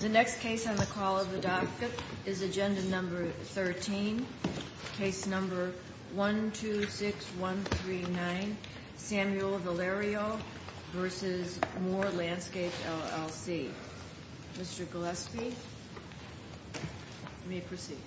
The next case on the call of the docket is agenda number 13 case number 126139 Samuel Valerio versus Moore Landscapes, LLC Mr. Gillespie May proceed Mr. Gillespie, please proceed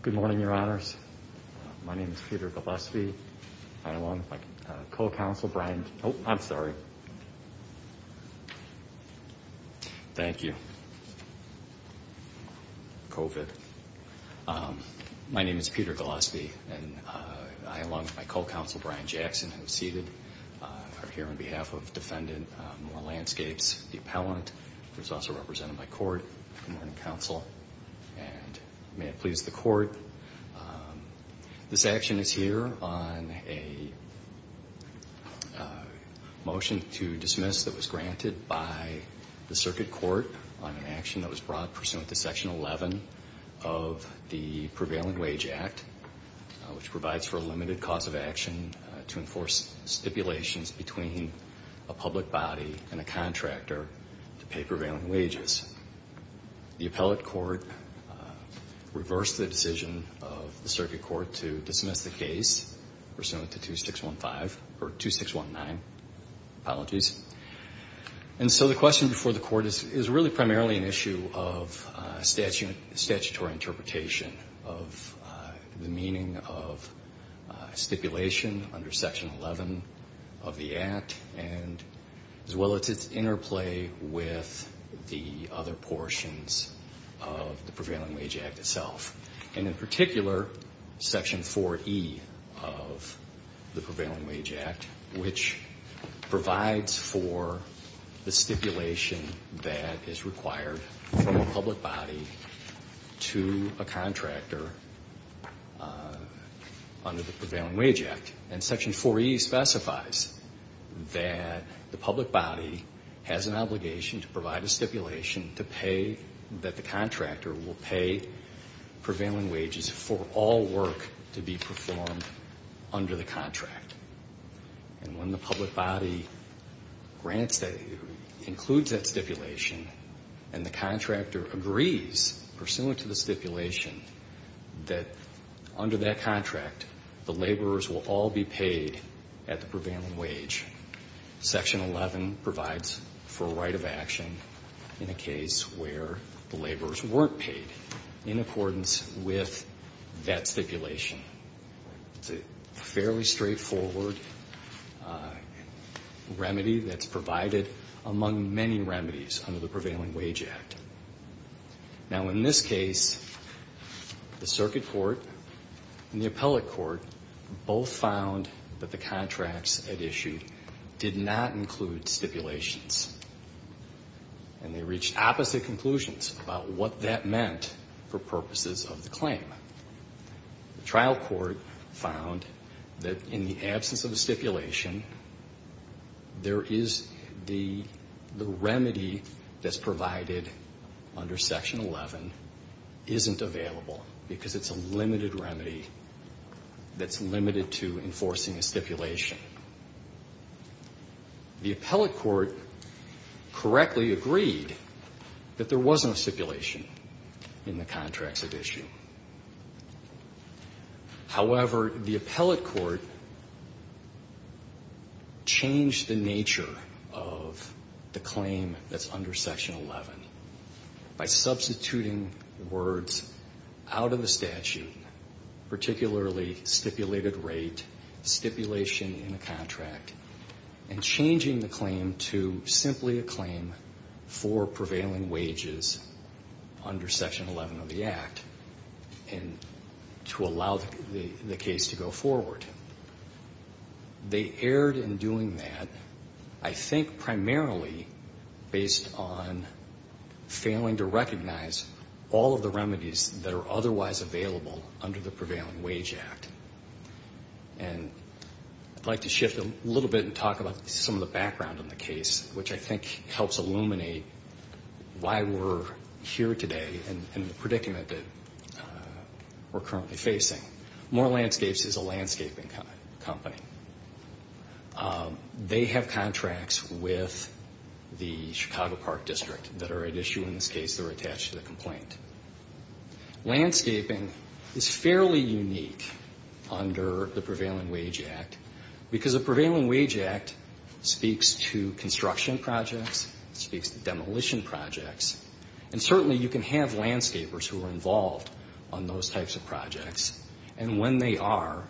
Good morning, your honors My name is Peter Gillespie. I along with my co-counsel Brian. Oh, I'm sorry Thank you COVID My name is Peter Gillespie and I along with my co-counsel Brian Jackson who is seated are here on behalf of defendant Moore Landscapes, the appellant who is also represented by court in the morning council and May it please the court This action is here on a Motion to dismiss that was granted by the circuit court on an action that was brought pursuant to section 11 of the Prevailing Wage Act which provides for a limited cause of action to enforce stipulations between a public body and a contractor to pay prevailing wages the appellate court Reversed the decision of the circuit court to dismiss the case pursuant to 2615 or 2619 apologies, and so the question before the court is is really primarily an issue of statute statutory interpretation of the meaning of stipulation under section 11 of the Act and as well as its interplay with the other portions of Prevailing Wage Act itself and in particular section 4e of the Prevailing Wage Act which provides for The stipulation that is required from a public body to a contractor Under the Prevailing Wage Act and section 4e specifies That the public body has an obligation to provide a stipulation to pay that the contractor will pay prevailing wages for all work to be performed under the contract and when the public body grants that includes that stipulation and the contractor agrees pursuant to the stipulation that Under that contract the laborers will all be paid at the prevailing wage section 11 provides for a right of action in a case where the laborers weren't paid in accordance with that stipulation It's a fairly straightforward Remedy that's provided among many remedies under the Prevailing Wage Act now in this case The circuit court and the appellate court both found that the contracts at issue did not include stipulations and They reached opposite conclusions about what that meant for purposes of the claim The trial court found that in the absence of a stipulation there is the Remedy that's provided under section 11 Isn't available because it's a limited remedy That's limited to enforcing a stipulation The appellate court correctly agreed that there was no stipulation in the contracts at issue However, the appellate court Changed the nature of the claim that's under section 11 By substituting the words out of the statute particularly stipulated rate stipulation in a contract and Changing the claim to simply a claim for prevailing wages under section 11 of the Act and To allow the case to go forward They erred in doing that. I think primarily based on failing to recognize all of the remedies that are otherwise available under the Prevailing Wage Act and I'd like to shift a little bit and talk about some of the background on the case, which I think helps illuminate Why we're here today and the predicament that We're currently facing. Moore Landscapes is a landscaping company They have contracts with the Chicago Park District that are at issue in this case, they're attached to the complaint Landscaping is fairly unique under the Prevailing Wage Act Because the Prevailing Wage Act speaks to construction projects, speaks to demolition projects and Certainly you can have landscapers who are involved on those types of projects and when they are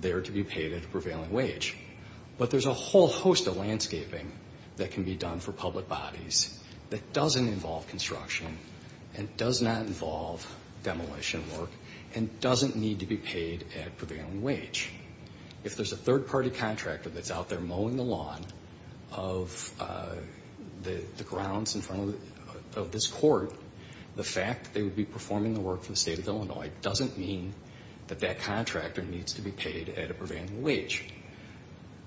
They're to be paid at a prevailing wage But there's a whole host of landscaping that can be done for public bodies that doesn't involve construction and does not involve demolition work and doesn't need to be paid at prevailing wage. If there's a third-party contractor that's out there mowing the lawn of The grounds in front of this court The fact that they would be performing the work for the state of Illinois doesn't mean that that contractor needs to be paid at a prevailing wage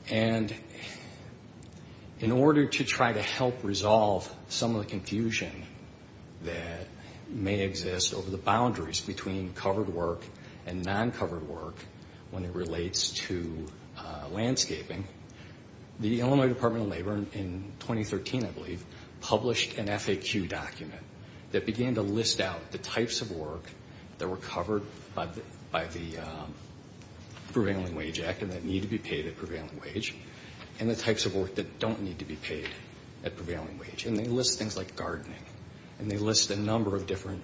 and In order to try to help resolve some of the confusion that may exist over the boundaries between covered work and non-covered work when it relates to landscaping The Illinois Department of Labor in 2013 I believe Published an FAQ document that began to list out the types of work that were covered by the Prevailing Wage Act and that need to be paid at prevailing wage and the types of work that don't need to be paid at prevailing wage And they list things like gardening and they list a number of different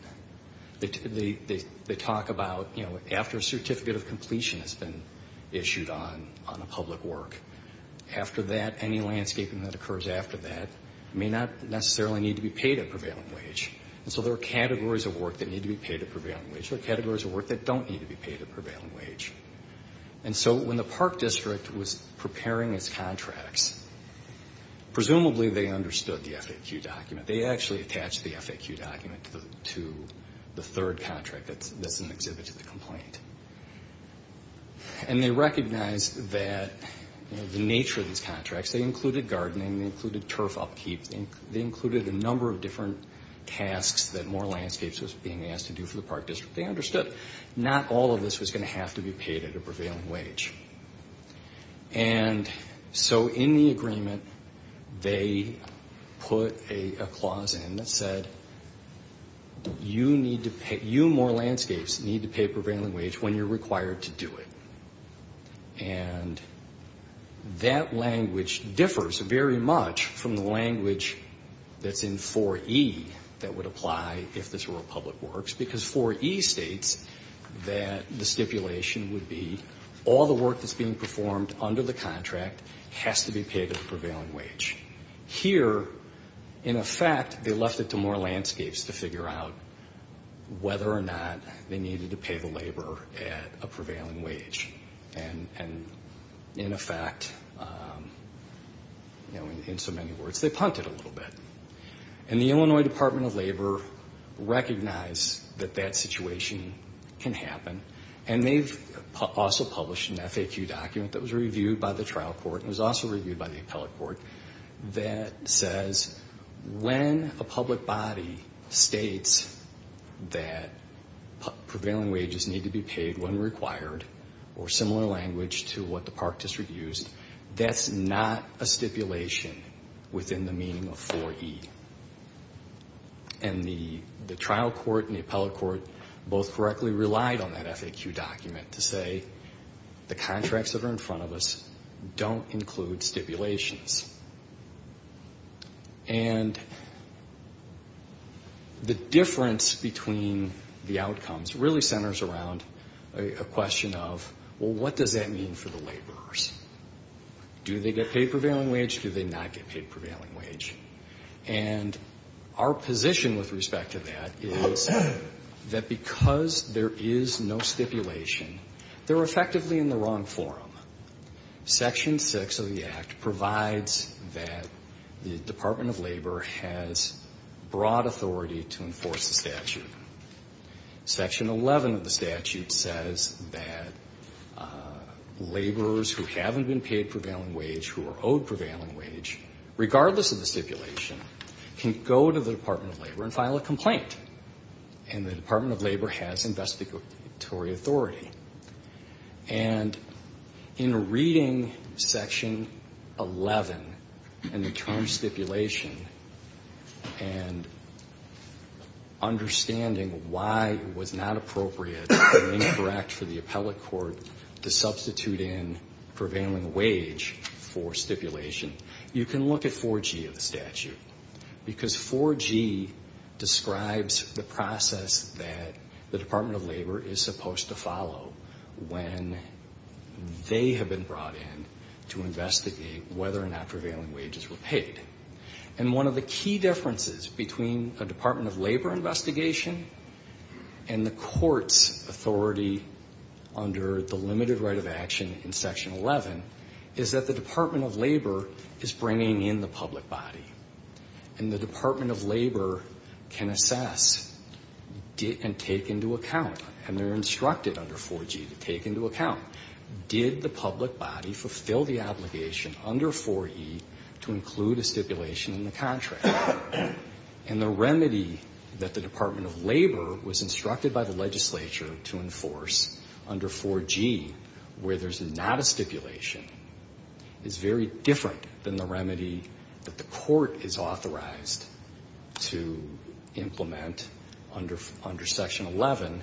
They talk about you know after a certificate of completion has been issued on on a public work After that any landscaping that occurs after that may not necessarily need to be paid at prevailing wage And so there are categories of work that need to be paid at prevailing wage or categories of work that don't need to be paid at prevailing wage and So when the Park District was preparing its contracts Presumably they understood the FAQ document. They actually attached the FAQ document to the third contract That's an exhibit of the complaint and they recognized that The nature of these contracts they included gardening they included turf upkeep and they included a number of different Tasks that more landscapes was being asked to do for the Park District they understood not all of this was going to have to be paid at a prevailing wage and So in the agreement they put a clause in that said You need to pay you more landscapes need to pay prevailing wage when you're required to do it and That language differs very much from the language That's in 4e that would apply if this were a public works because 4e states That the stipulation would be all the work that's being performed under the contract has to be paid at the prevailing wage Here in effect, they left it to more landscapes to figure out whether or not they needed to pay the labor at a prevailing wage and In effect You know in so many words they punted a little bit and the Illinois Department of Labor recognized that that situation Can happen and they've also published an FAQ document that was reviewed by the trial court and was also reviewed by the appellate court that says when a public body states that Prevailing wages need to be paid when required or similar language to what the park district used That's not a stipulation within the meaning of 4e and The the trial court and the appellate court both correctly relied on that FAQ document to say The contracts that are in front of us don't include stipulations and The difference between The outcomes really centers around a question of well, what does that mean for the laborers? Do they get paid prevailing wage? Do they not get paid prevailing wage and Our position with respect to that is That because there is no stipulation. They're effectively in the wrong forum section 6 of the act provides that the Department of Labor has broad authority to enforce the statute Section 11 of the statute says that Laborers who haven't been paid prevailing wage who are owed prevailing wage regardless of the stipulation can go to the Department of Labor and file a complaint and the Department of Labor has investigatory authority and in reading section 11 and the term stipulation and Understanding why it was not appropriate correct for the appellate court to substitute in prevailing wage for Stipulation you can look at 4g of the statute because 4g describes the process that the Department of Labor is supposed to follow when they have been brought in to investigate whether or not prevailing wages were paid and One of the key differences between a Department of Labor investigation and the courts authority Under the limited right of action in section 11 is that the Department of Labor is bringing in the public body and the Department of Labor can assess Did and take into account and they're instructed under 4g to take into account Did the public body fulfill the obligation under 4e to include a stipulation in the contract and The remedy that the Department of Labor was instructed by the legislature to enforce under 4g Where there's not a stipulation Is very different than the remedy that the court is authorized to implement under under section 11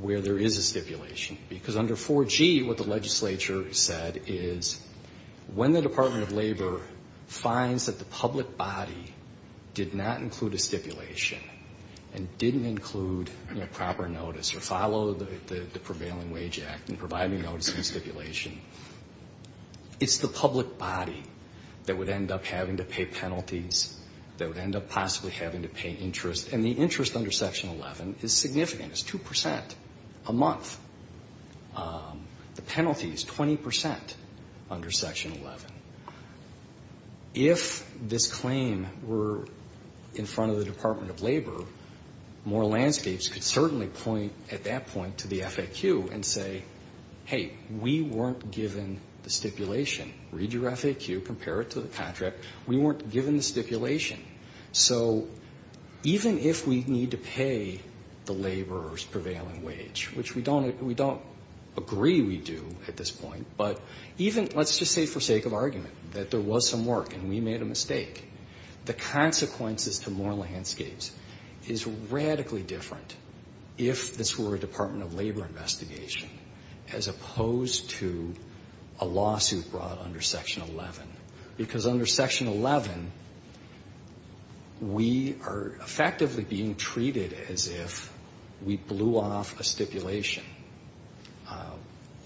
Where there is a stipulation because under 4g what the legislature said is when the Department of Labor finds that the public body did not include a stipulation and Didn't include a proper notice or follow the the prevailing wage act and provide me notice of stipulation It's the public body that would end up having to pay penalties That would end up possibly having to pay interest and the interest under section 11 is significant as 2% a month The penalty is 20% under section 11 If this claim were in front of the Department of Labor More landscapes could certainly point at that point to the FAQ and say hey We weren't given the stipulation read your FAQ compare it to the contract We weren't given the stipulation so Even if we need to pay the laborers prevailing wage, which we don't we don't Agree, we do at this point But even let's just say for sake of argument that there was some work and we made a mistake the consequences to more landscapes is radically different if this were a Department of Labor investigation as opposed to a Section-11 We are effectively being treated as if we blew off a stipulation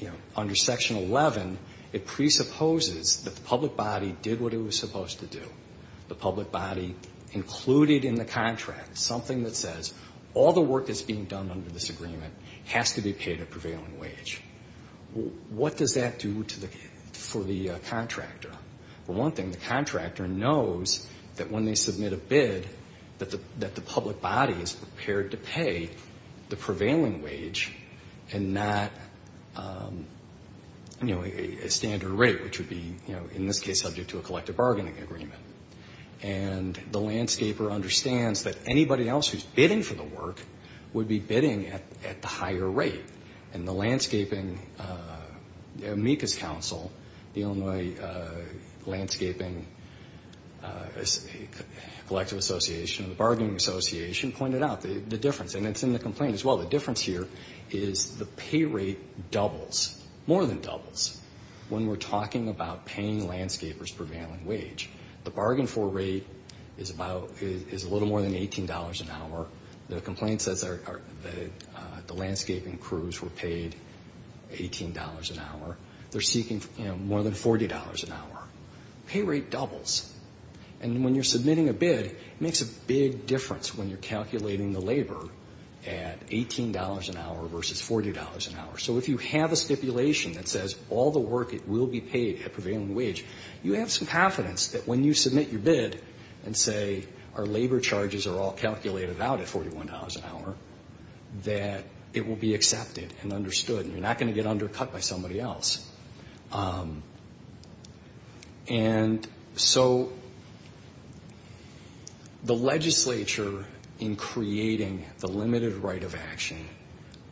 You know under section 11 it presupposes that the public body did what it was supposed to do the public body Included in the contract something that says all the work is being done under this agreement has to be paid a prevailing wage What does that do to the for the contractor for one thing the contractor knows that when they submit a bid That the that the public body is prepared to pay the prevailing wage and not You know a standard rate which would be you know in this case subject to a collective bargaining agreement and The landscaper understands that anybody else who's bidding for the work Would be bidding at the higher rate and the landscaping amicus council the Illinois landscaping Collective Association the bargaining association pointed out the difference and it's in the complaint as well The difference here is the pay rate doubles more than doubles When we're talking about paying landscapers prevailing wage the bargain for rate is about is a little more than $18 an hour the complaint says are The landscaping crews were paid $18 an hour. They're seeking more than $40 an hour Pay rate doubles and when you're submitting a bid it makes a big difference when you're calculating the labor at $18 an hour versus $40 an hour So if you have a stipulation that says all the work it will be paid at prevailing wage You have some confidence that when you submit your bid and say our labor charges are all calculated out at $41 an hour That it will be accepted and understood and you're not going to get undercut by somebody else And So The legislature in creating the limited right of action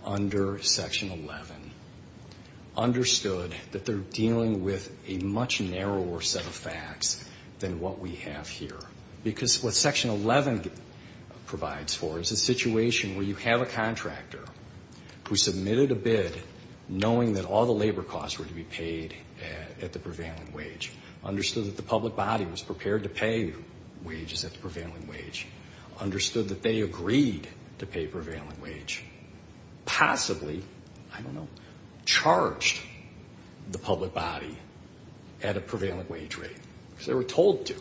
under section 11 Understood that they're dealing with a much narrower set of facts than what we have here because what section 11 Provides for is a situation where you have a contractor Who submitted a bid? Knowing that all the labor costs were to be paid at the prevailing wage Understood that the public body was prepared to pay wages at the prevailing wage Understood that they agreed to pay prevailing wage Possibly I don't know charged the public body At a prevailing wage rate because they were told to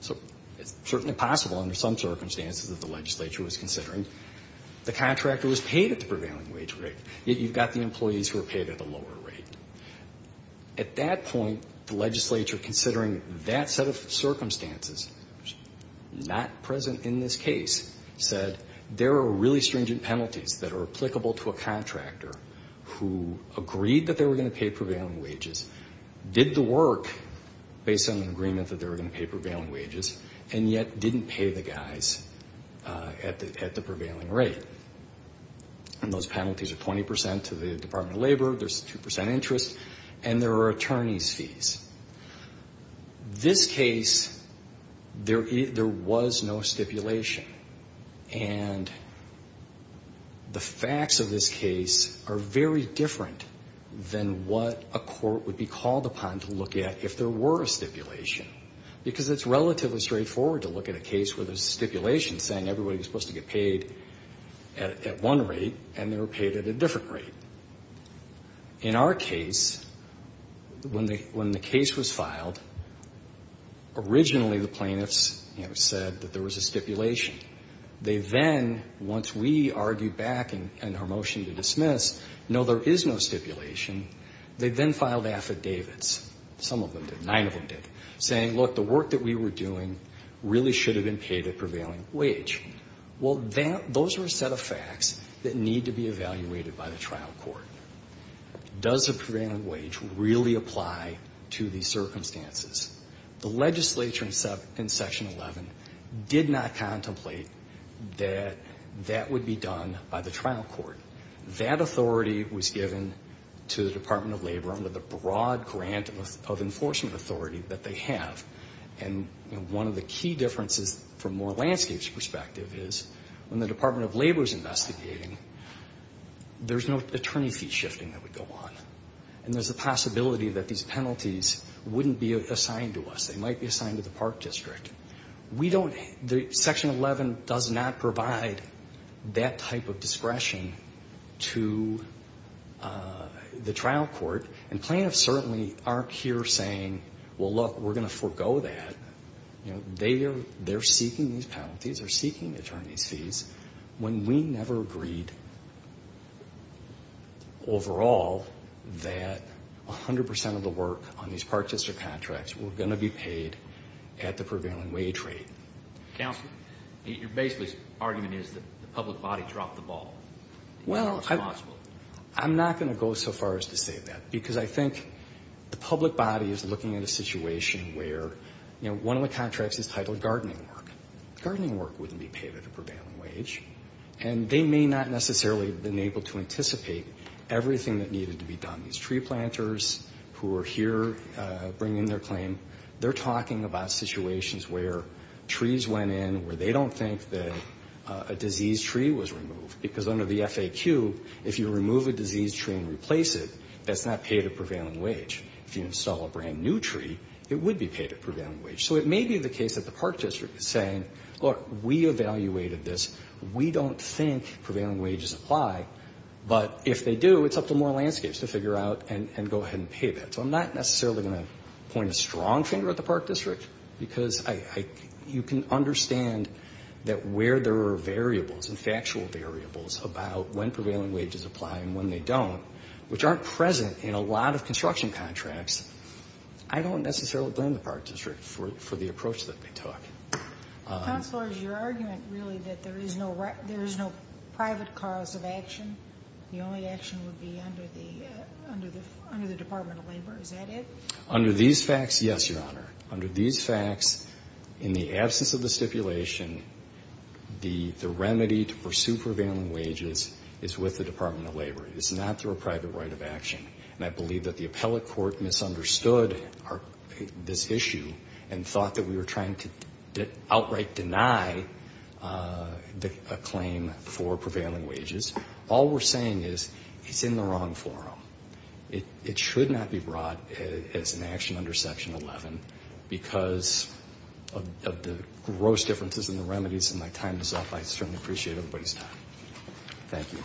so it's certainly possible under some circumstances that the legislature was considering The contractor was paid at the prevailing wage rate yet. You've got the employees who are paid at the lower rate At that point the legislature considering that set of circumstances Not present in this case said there are really stringent penalties that are applicable to a contractor Who agreed that they were going to pay prevailing wages? Did the work based on an agreement that they were going to pay prevailing wages and yet didn't pay the guys at the at the prevailing rate And those penalties are 20% to the Department of Labor. There's 2% interest and there are attorneys fees This case there either was no stipulation and The facts of this case are very different Than what a court would be called upon to look at if there were a stipulation Because it's relatively straightforward to look at a case where there's a stipulation saying everybody was supposed to get paid At one rate and they were paid at a different rate in our case When they when the case was filed Originally the plaintiffs, you know said that there was a stipulation They then once we argued back and and her motion to dismiss. No, there is no stipulation They then filed affidavits some of them did nine of them did saying look the work that we were doing Really should have been paid at prevailing wage Well, then those are a set of facts that need to be evaluated by the trial court Does a prevailing wage really apply to these circumstances the legislature in section 11 Did not contemplate that That would be done by the trial court That authority was given to the Department of Labor under the broad grant of enforcement authority that they have And one of the key differences from more landscapes perspective is when the Department of Labor is investigating There's no attorney fee shifting that would go on and there's a possibility that these penalties Wouldn't be assigned to us. They might be assigned to the park district. We don't the section 11 does not provide that type of discretion to The trial court and plaintiffs certainly aren't here saying well look we're gonna forego that You know, they are they're seeking these penalties are seeking attorneys fees when we never agreed Overall that 100% of the work on these park district contracts. We're gonna be paid at the prevailing wage rate Counselor your basically argument is that the public body dropped the ball Well, I lost I'm not gonna go so far as to say that because I think the public body is looking at a situation Where you know, one of the contracts is titled gardening work gardening work wouldn't be paid at a prevailing wage And they may not necessarily been able to anticipate Everything that needed to be done these tree planters who are here bringing their claim they're talking about situations where trees went in where they don't think that a Disease tree was removed because under the FAQ if you remove a disease tree and replace it That's not paid a prevailing wage if you install a brand new tree, it would be paid at prevailing wage So it may be the case that the park district is saying look we evaluated this. We don't think prevailing wages apply But if they do it's up to more landscapes to figure out and go ahead and pay that so I'm not necessarily going to point a strong finger at the park district because I You can understand that where there are variables and factual variables about when prevailing wages apply and when they don't Which aren't present in a lot of construction contracts. I don't necessarily blame the park district for the approach that they took Counselors your argument really that there is no right. There is no private cause of action. The only action would be under the Under the Department of Labor is that it under these facts? Yes, your honor under these facts in the absence of the stipulation The the remedy to pursue prevailing wages is with the Department of Labor It's not through a private right of action And I believe that the appellate court misunderstood our this issue and thought that we were trying to outright deny The claim for prevailing wages. All we're saying is it's in the wrong forum it it should not be brought as an action under section 11 because of Gross differences in the remedies and my time is up. I certainly appreciate everybody's time. Thank you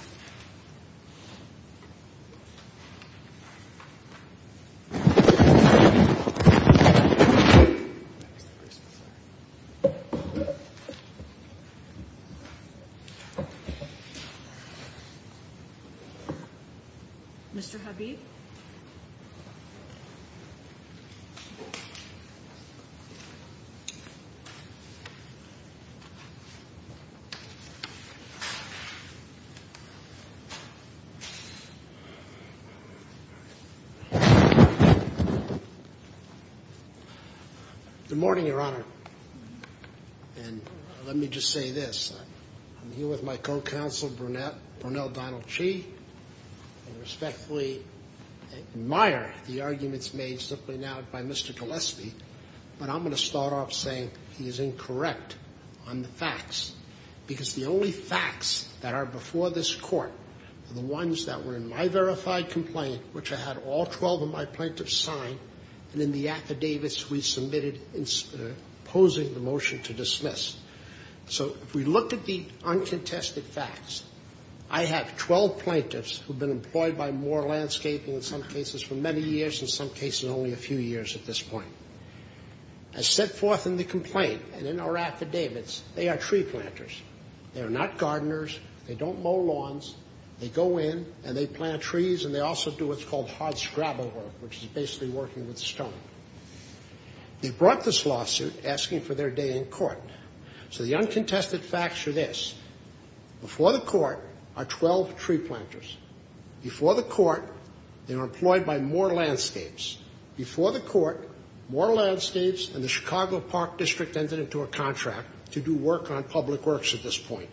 Mr. Habib The Morning your honor and Let me just say this. I'm here with my co-counsel brunette or no Donald Chi respectfully Admire the arguments made simply now by mr. Gillespie, but I'm going to start off saying he is incorrect on the facts Because the only facts that are before this court The ones that were in my verified complaint, which I had all 12 of my plaintiffs sign and in the affidavits we submitted imposing the motion to dismiss So if we look at the uncontested facts I have 12 plaintiffs who've been employed by more landscaping in some cases for many years in some cases only a few years at this point I Set forth in the complaint and in our affidavits. They are tree planters. They are not gardeners They don't mow lawns they go in and they plant trees and they also do what's called hard scrabble work Which is basically working with stone They brought this lawsuit asking for their day in court. So the uncontested facts are this Before the court are 12 tree planters Before the court they are employed by more landscapes Before the court more landscapes and the Chicago Park District entered into a contract to do work on public works at this point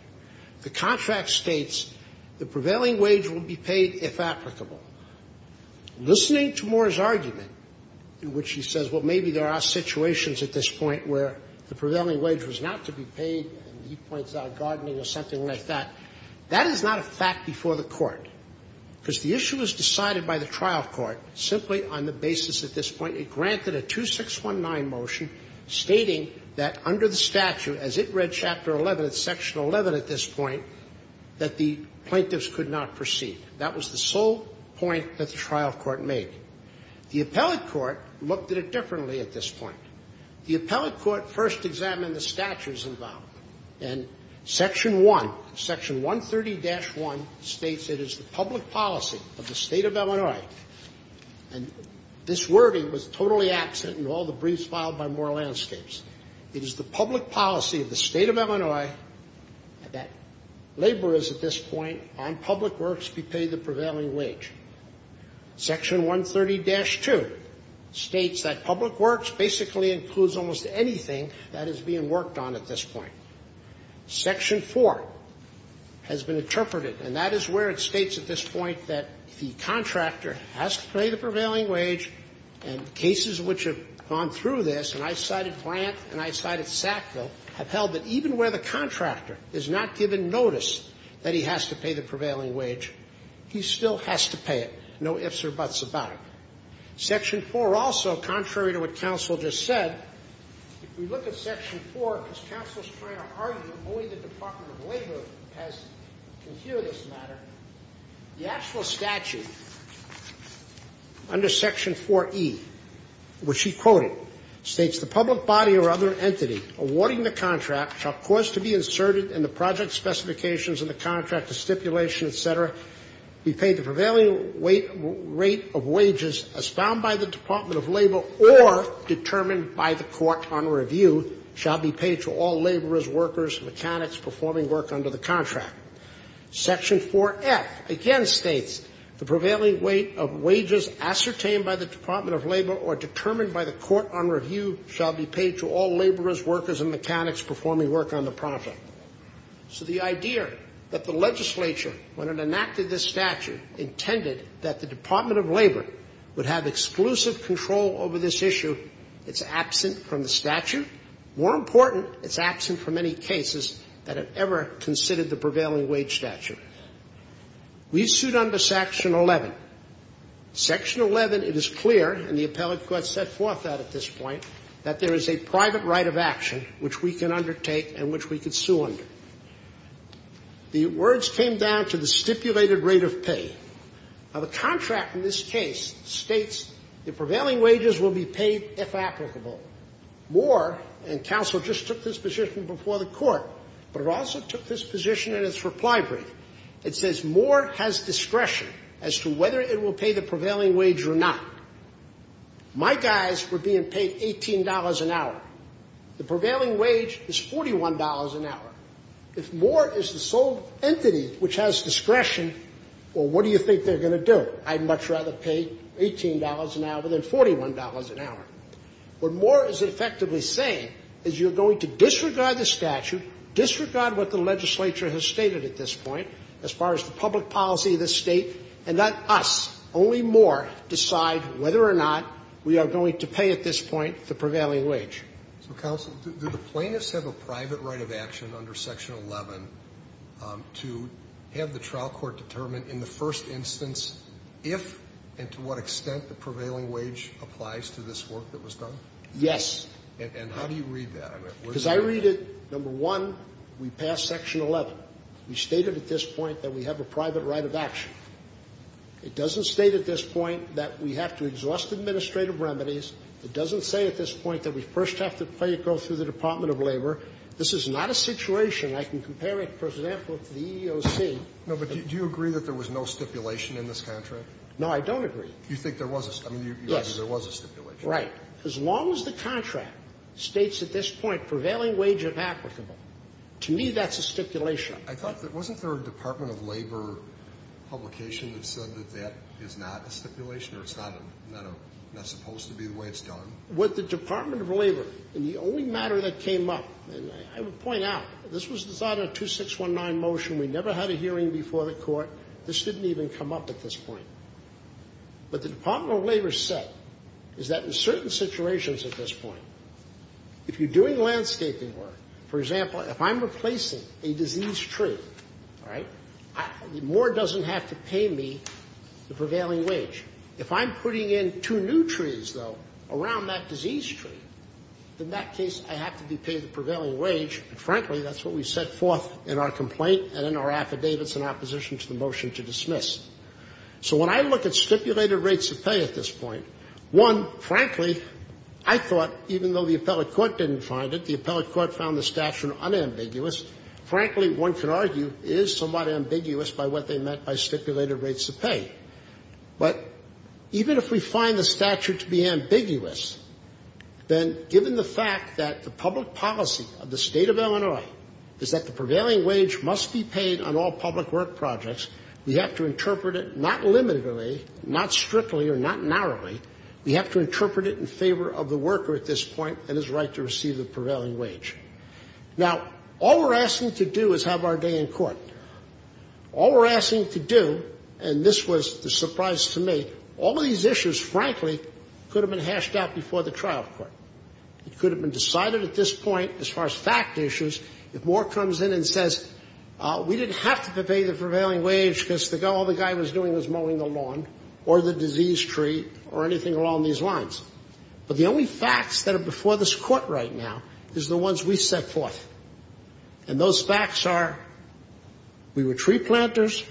The contract states the prevailing wage will be paid if applicable Listening to Moore's argument in which he says well That is not a fact before the court Because the issue was decided by the trial court simply on the basis at this point it granted a two six one nine motion Stating that under the statute as it read chapter 11 at section 11 at this point that the plaintiffs could not proceed That was the sole point that the trial court made The appellate court looked at it differently at this point. The appellate court first examined the statutes involved and Section 1 section 130 dash 1 states. It is the public policy of the state of Illinois and This wording was totally absent and all the briefs filed by more landscapes. It is the public policy of the state of Illinois That labor is at this point on public works be paid the prevailing wage section 130 dash 2 States that public works basically includes almost anything that is being worked on at this point Section 4 has been interpreted and that is where it states at this point that the contractor has to pay the prevailing wage and Cases which have gone through this and I cited plant and I cited Sackville have held that even where the contractor is not given Notice that he has to pay the prevailing wage. He still has to pay it. No ifs or buts about it section 4 also contrary to what counsel just said Only the Department of Labor can hear this matter The actual statute Under section 4e Which he quoted states the public body or other entity Awarding the contract shall cause to be inserted in the project specifications and the contractor stipulation, etc be paid the prevailing weight rate of wages as found by the Department of Labor or Determined by the court on review shall be paid to all laborers workers mechanics performing work under the contract section 4f again states the prevailing weight of wages ascertained by the Department of Labor or Determined by the court on review shall be paid to all laborers workers and mechanics performing work on the project So the idea that the legislature when it enacted this statute Intended that the Department of Labor would have exclusive control over this issue It's absent from the statute more important. It's absent from any cases that have ever considered the prevailing wage statute We sued under section 11 Section 11 it is clear and the appellate court set forth that at this point that there is a private right of action Which we can undertake and which we could sue under The words came down to the stipulated rate of pay Now the contract in this case states the prevailing wages will be paid if applicable More and counsel just took this position before the court, but it also took this position in its reply brief It says more has discretion as to whether it will pay the prevailing wage or not My guys were being paid $18 an hour The prevailing wage is $41 an hour if more is the sole entity which has discretion Well, what do you think they're going to do? I'd much rather pay $18 an hour than $41 an hour What more is it effectively saying is you're going to disregard the statute? Disregard what the legislature has stated at this point as far as the public policy of the state and that us only more Decide whether or not we are going to pay at this point the prevailing wage Counsel did the plaintiffs have a private right of action under section 11? To have the trial court determined in the first instance If and to what extent the prevailing wage applies to this work that was done. Yes Because I read it number one we passed section 11 we stated at this point that we have a private right of action It doesn't state at this point that we have to exhaust administrative remedies It doesn't say at this point that we first have to play it go through the Department of Labor This is not a situation. I can compare it for example to the EEOC No, but do you agree that there was no stipulation in this contract? No, I don't agree. You think there was a There was a stipulation right as long as the contract states at this point prevailing wage of applicable to me That's a stipulation. I thought that wasn't there a Department of Labor Publication that said that that is not a stipulation or it's not That's supposed to be the way it's done What the Department of Labor and the only matter that came up and I would point out this was decided to six one nine motion We never had a hearing before the court. This didn't even come up at this point But the Department of Labor said is that in certain situations at this point? If you're doing landscaping work, for example, if I'm replacing a diseased tree, right? The more doesn't have to pay me the prevailing wage if I'm putting in two new trees though around that disease tree In that case I have to be paid the prevailing wage Frankly, that's what we set forth in our complaint and in our affidavits in opposition to the motion to dismiss So when I look at stipulated rates of pay at this point one, frankly I thought even though the appellate court didn't find it the appellate court found the statute unambiguous Frankly one can argue is somewhat ambiguous by what they meant by stipulated rates of pay But even if we find the statute to be ambiguous Then given the fact that the public policy of the state of Illinois Is that the prevailing wage must be paid on all public work projects? We have to interpret it not limitedly not strictly or not narrowly We have to interpret it in favor of the worker at this point and his right to receive the prevailing wage Now all we're asking to do is have our day in court All we're asking to do and this was the surprise to me all these issues frankly could have been hashed out before the trial court It could have been decided at this point as far as fact issues if more comes in and says We didn't have to pay the prevailing wage Because the guy all the guy was doing was mowing the lawn or the disease tree or anything along these lines But the only facts that are before this court right now is the ones we set forth and those facts are We were tree planters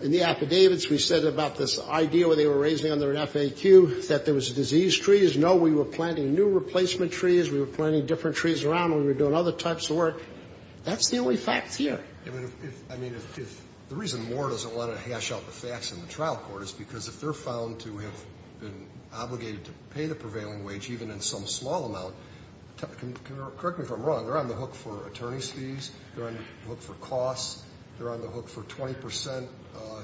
In the affidavits we said about this idea where they were raising under an FAQ that there was a disease trees No, we were planting new replacement trees. We were planning different trees around. We were doing other types of work That's the only facts here The reason war doesn't want to hash out the facts in the trial court is because if they're found to have been Obligated to pay the prevailing wage even in some small amount Correct me if I'm wrong. They're on the hook for attorney's fees. They're on the hook for costs. They're on the hook for 20%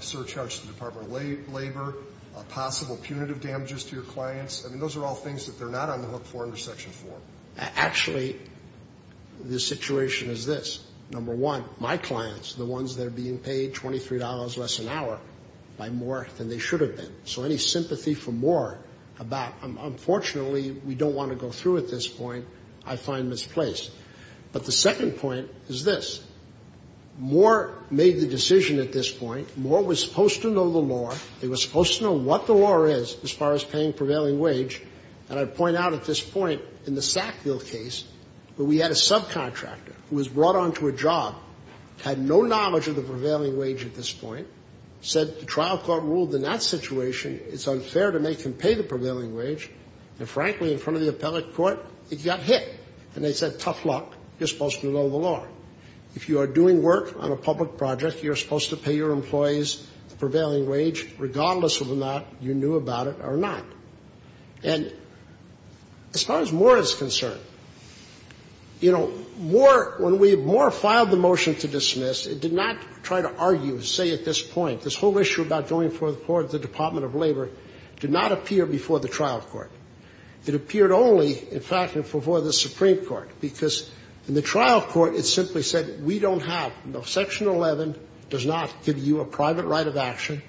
Surcharge the Department of Labor Possible punitive damages to your clients. I mean those are all things that they're not on the hook for under section 4 actually This situation is this number one my clients the ones that are being paid $23 less an hour by more than they should have been so any sympathy for more About unfortunately, we don't want to go through at this point. I find misplaced But the second point is this More made the decision at this point more was supposed to know the law They were supposed to know what the law is as far as paying prevailing wage And I'd point out at this point in the Sackville case where we had a subcontractor who was brought on to a job Had no knowledge of the prevailing wage at this point said the trial court ruled in that situation It's unfair to make him pay the prevailing wage and frankly in front of the appellate court It got hit and they said tough luck. You're supposed to know the law if you are doing work on a public project You're supposed to pay your employees the prevailing wage regardless of the not you knew about it or not and As far as more is concerned You know more when we more filed the motion to dismiss Did not try to argue say at this point this whole issue about going for the floor of the Department of Labor Did not appear before the trial court It appeared only in fact before the Supreme Court because in the trial court It simply said we don't have no section 11 does not give you a private right of action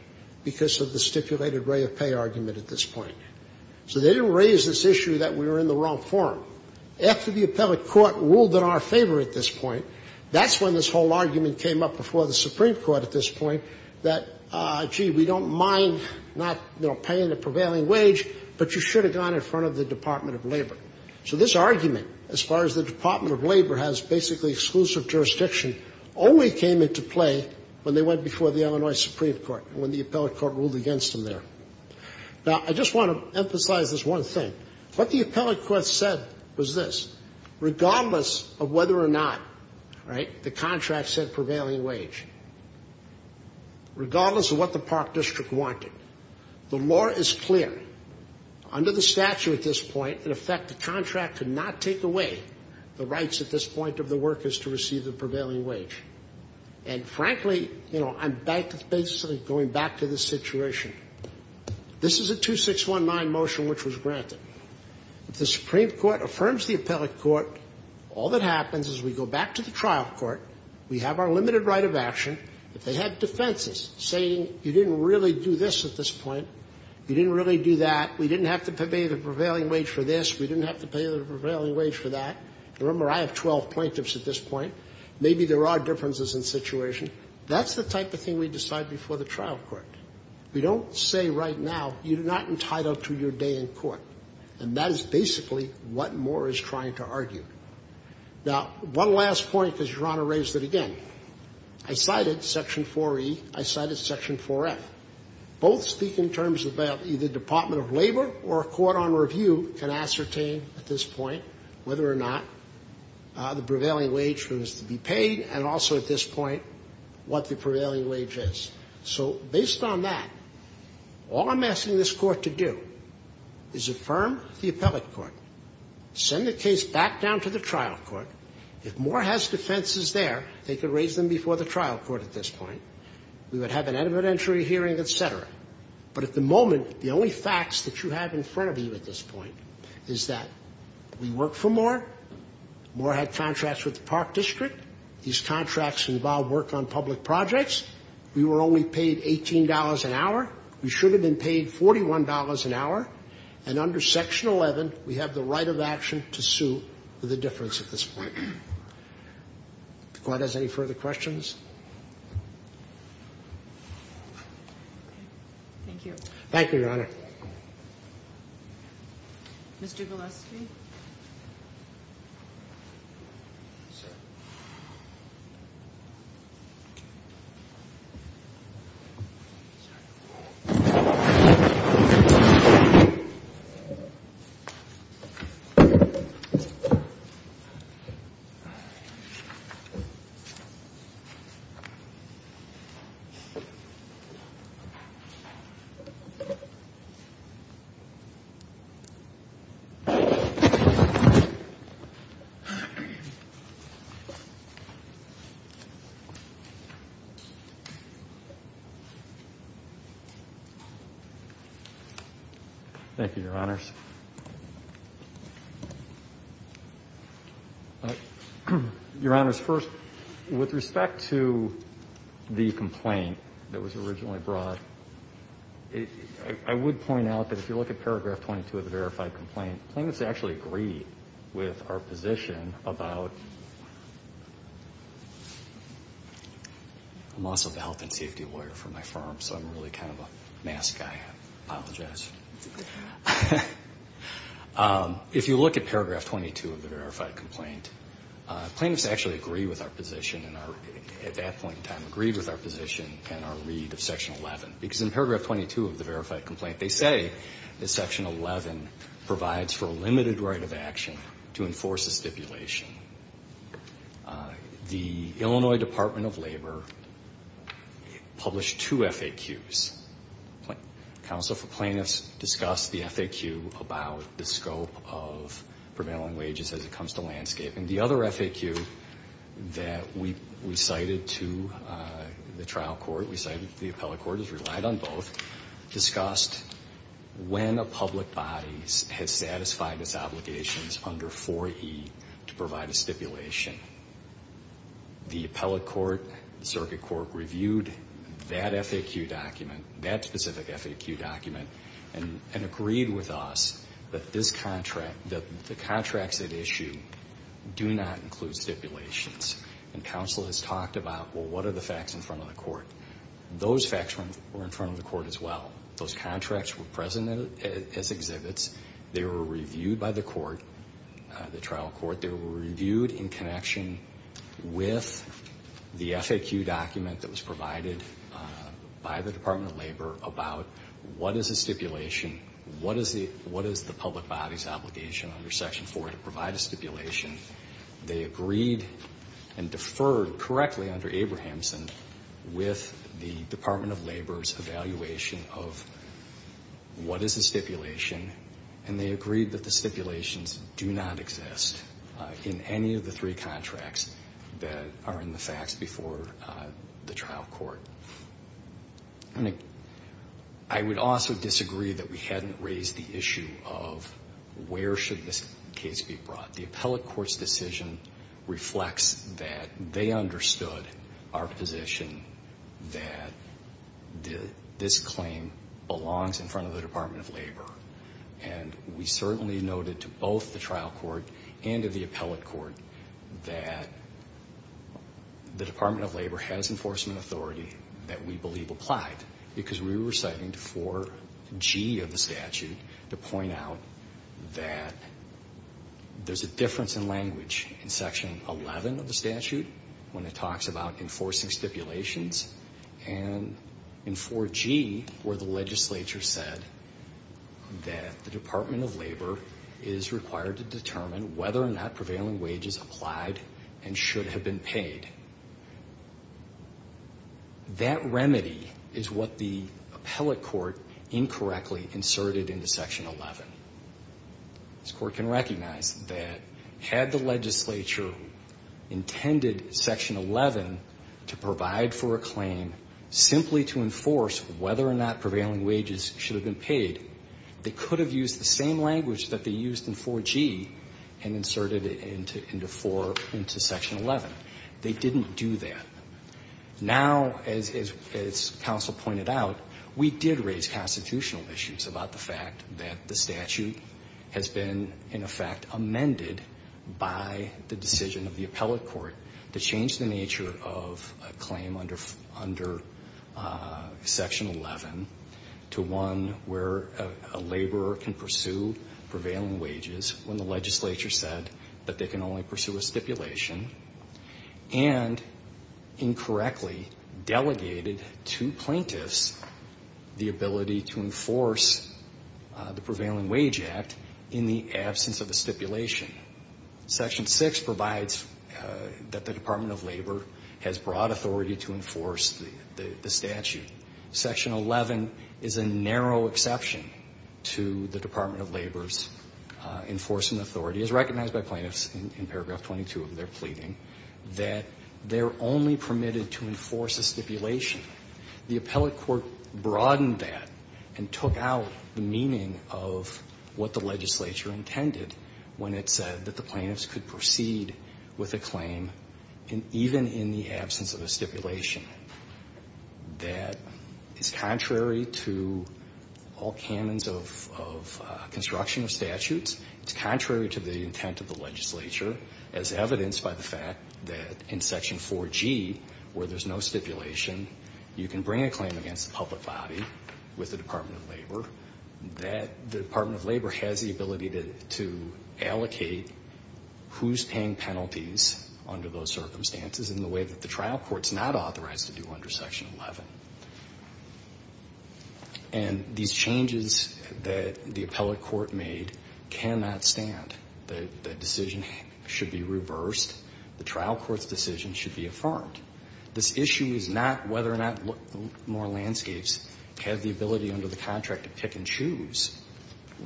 Because of the stipulated way of pay argument at this point So they didn't raise this issue that we were in the wrong form after the appellate court ruled in our favor at this point That's when this whole argument came up before the Supreme Court at this point that Gee, we don't mind not, you know paying the prevailing wage, but you should have gone in front of the Department of Labor So this argument as far as the Department of Labor has basically exclusive jurisdiction Always came into play when they went before the Illinois Supreme Court when the appellate court ruled against them there Now I just want to emphasize this one thing what the appellate court said was this Regardless of whether or not right the contract said prevailing wage Regardless of what the park district wanted the law is clear Under the statute at this point in effect the contract could not take away the rights at this point of the workers to receive the prevailing wage and Frankly, you know, I'm back to basically going back to this situation This is a two six one nine motion, which was granted If the Supreme Court affirms the appellate court all that happens is we go back to the trial court We have our limited right of action if they had defenses saying you didn't really do this at this point You didn't really do that. We didn't have to pay the prevailing wage for this We didn't have to pay the prevailing wage for that. Remember I have 12 plaintiffs at this point Maybe there are differences in situation. That's the type of thing we decide before the trial court We don't say right now you do not entitle to your day in court and that is basically what more is trying to argue Now one last point because your honor raised it again. I cited section 4e I cited section 4f Both speak in terms of that either Department of Labor or a court on review can ascertain at this point whether or not The prevailing wage was to be paid and also at this point what the prevailing wage is So based on that All I'm asking this court to do is affirm the appellate court Send the case back down to the trial court if more has defenses there They could raise them before the trial court at this point. We would have an evidentiary hearing etc But at the moment the only facts that you have in front of you at this point is that we work for more More had contracts with the park district these contracts involved work on public projects We were only paid $18 an hour We should have been paid $41 an hour and under section 11 We have the right of action to sue for the difference at this point The court has any further questions Thank you, thank you your honor Mr. Gillespie Thank you Thank you your honors Your honors first with respect to the complaint that was originally brought I Would point out that if you look at paragraph 22 of the verified complaint plaintiffs actually agree with our position about I'm also the health and safety lawyer for my firm. So I'm really kind of a mask. I apologize If you look at paragraph 22 of the verified complaint plaintiffs actually agree with our position and our At that point in time agreed with our position and our read of section 11 because in paragraph 22 of the verified complaint They say that section 11 provides for a limited right of action to enforce the stipulation The Illinois Department of Labor Published two FAQs counsel for plaintiffs discussed the FAQ about the scope of Prevailing wages as it comes to landscape and the other FAQ That we recited to the trial court we cited the appellate court has relied on both discussed When a public bodies has satisfied its obligations under 4e to provide a stipulation the appellate court circuit court reviewed that FAQ document that specific FAQ document and Agreed with us that this contract that the contracts at issue Do not include stipulations and counsel has talked about well, what are the facts in front of the court? Those facts were in front of the court as well. Those contracts were present as exhibits. They were reviewed by the court The trial court they were reviewed in connection with the FAQ document that was provided By the Department of Labor about what is a stipulation? What is the what is the public body's obligation under section 4 to provide a stipulation they agreed and deferred correctly under Abrahamson with the Department of Labor's evaluation of What is the stipulation and they agreed that the stipulations do not exist? In any of the three contracts that are in the facts before the trial court and I Would also disagree that we hadn't raised the issue of Where should this case be brought the appellate courts decision? Reflects that they understood our position that did this claim belongs in front of the Department of Labor and we certainly noted to both the trial court and of the appellate court that The Department of Labor has enforcement authority that we believe applied because we were citing to 4g of the statute to point out that there's a difference in language in section 11 of the statute when it talks about enforcing stipulations and in 4g where the legislature said That the Department of Labor is required to determine whether or not prevailing wages applied and should have been paid That remedy is what the appellate court incorrectly inserted into section 11 This court can recognize that had the legislature intended section 11 to provide for a claim Simply to enforce whether or not prevailing wages should have been paid They could have used the same language that they used in 4g and inserted it into into 4 into section 11 They didn't do that now as Counsel pointed out we did raise constitutional issues about the fact that the statute has been in effect amended by the decision of the appellate court to change the nature of a claim under under section 11 to one where a laborer can pursue prevailing wages when the legislature said that they can only pursue a stipulation and Incorrectly delegated to plaintiffs the ability to enforce the prevailing wage act in the absence of a stipulation section 6 provides That the Department of Labor has broad authority to enforce the statute Section 11 is a narrow exception to the Department of Labor's Enforcing authority is recognized by plaintiffs in paragraph 22 of their pleading that they're only permitted to enforce a stipulation the appellate court broadened that and took out the meaning of What the legislature intended when it said that the plaintiffs could proceed with a claim And even in the absence of a stipulation that is contrary to all canons of construction of statutes It's contrary to the intent of the legislature as evidenced by the fact that in section 4g where there's no stipulation You can bring a claim against the public body with the Department of Labor That the Department of Labor has the ability to allocate Who's paying penalties under those circumstances in the way that the trial court's not authorized to do under section 11? and These changes that the appellate court made Cannot stand the decision should be reversed the trial courts decision should be affirmed This issue is not whether or not more landscapes have the ability under the contract to pick and choose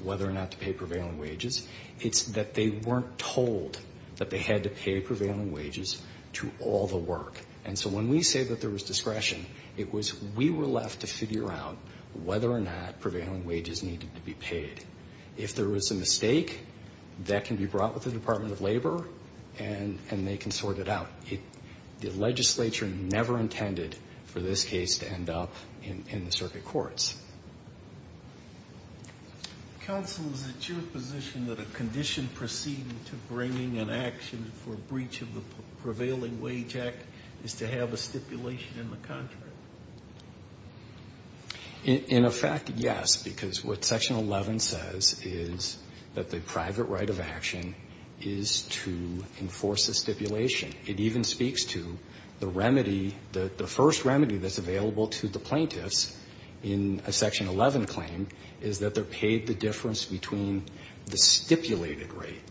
Whether or not to pay prevailing wages It's that they weren't told that they had to pay prevailing wages to all the work And so when we say that there was discretion it was we were left to figure out Whether or not prevailing wages needed to be paid if there was a mistake That can be brought with the Department of Labor and and they can sort it out The legislature never intended for this case to end up in the circuit courts Counsel is it your position that a condition proceeding to bringing an action for breach of the Prevailing wage act is to have a stipulation in the contract In effect yes, because what section 11 says is that the private right of action is To enforce the stipulation it even speaks to the remedy that the first remedy that's available to the plaintiffs in A section 11 claim is that they're paid the difference between the stipulated rate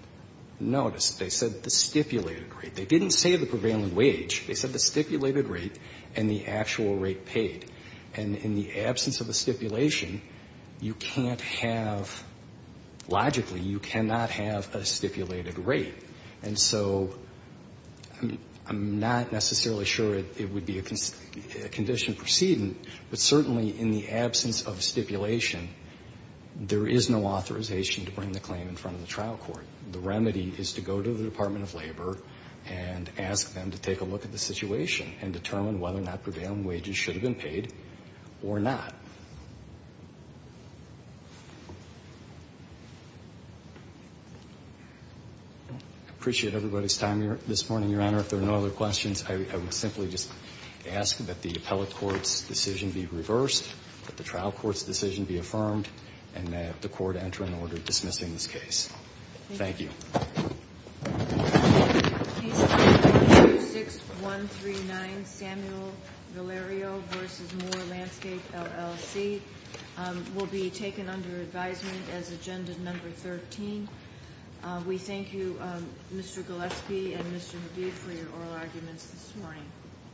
Notice they said the stipulated rate. They didn't say the prevailing wage They said the stipulated rate and the actual rate paid and in the absence of a stipulation You can't have Logically you cannot have a stipulated rate and so I'm not necessarily sure it would be a Condition proceeding, but certainly in the absence of stipulation there is no authorization to bring the claim in front of the trial court the remedy is to go to the Department of Labor and Ask them to take a look at the situation and determine whether or not prevailing wages should have been paid or not I Appreciate everybody's time here this morning your honor if there are no other questions I would simply just ask that the appellate courts decision be reversed But the trial courts decision be affirmed and that the court enter an order dismissing this case Thank you 6 1 3 9 Samuel Valerio versus more landscape LLC Will be taken under advisement as agenda number 13 We thank you. Mr. Gillespie and mr. B for your oral arguments this morning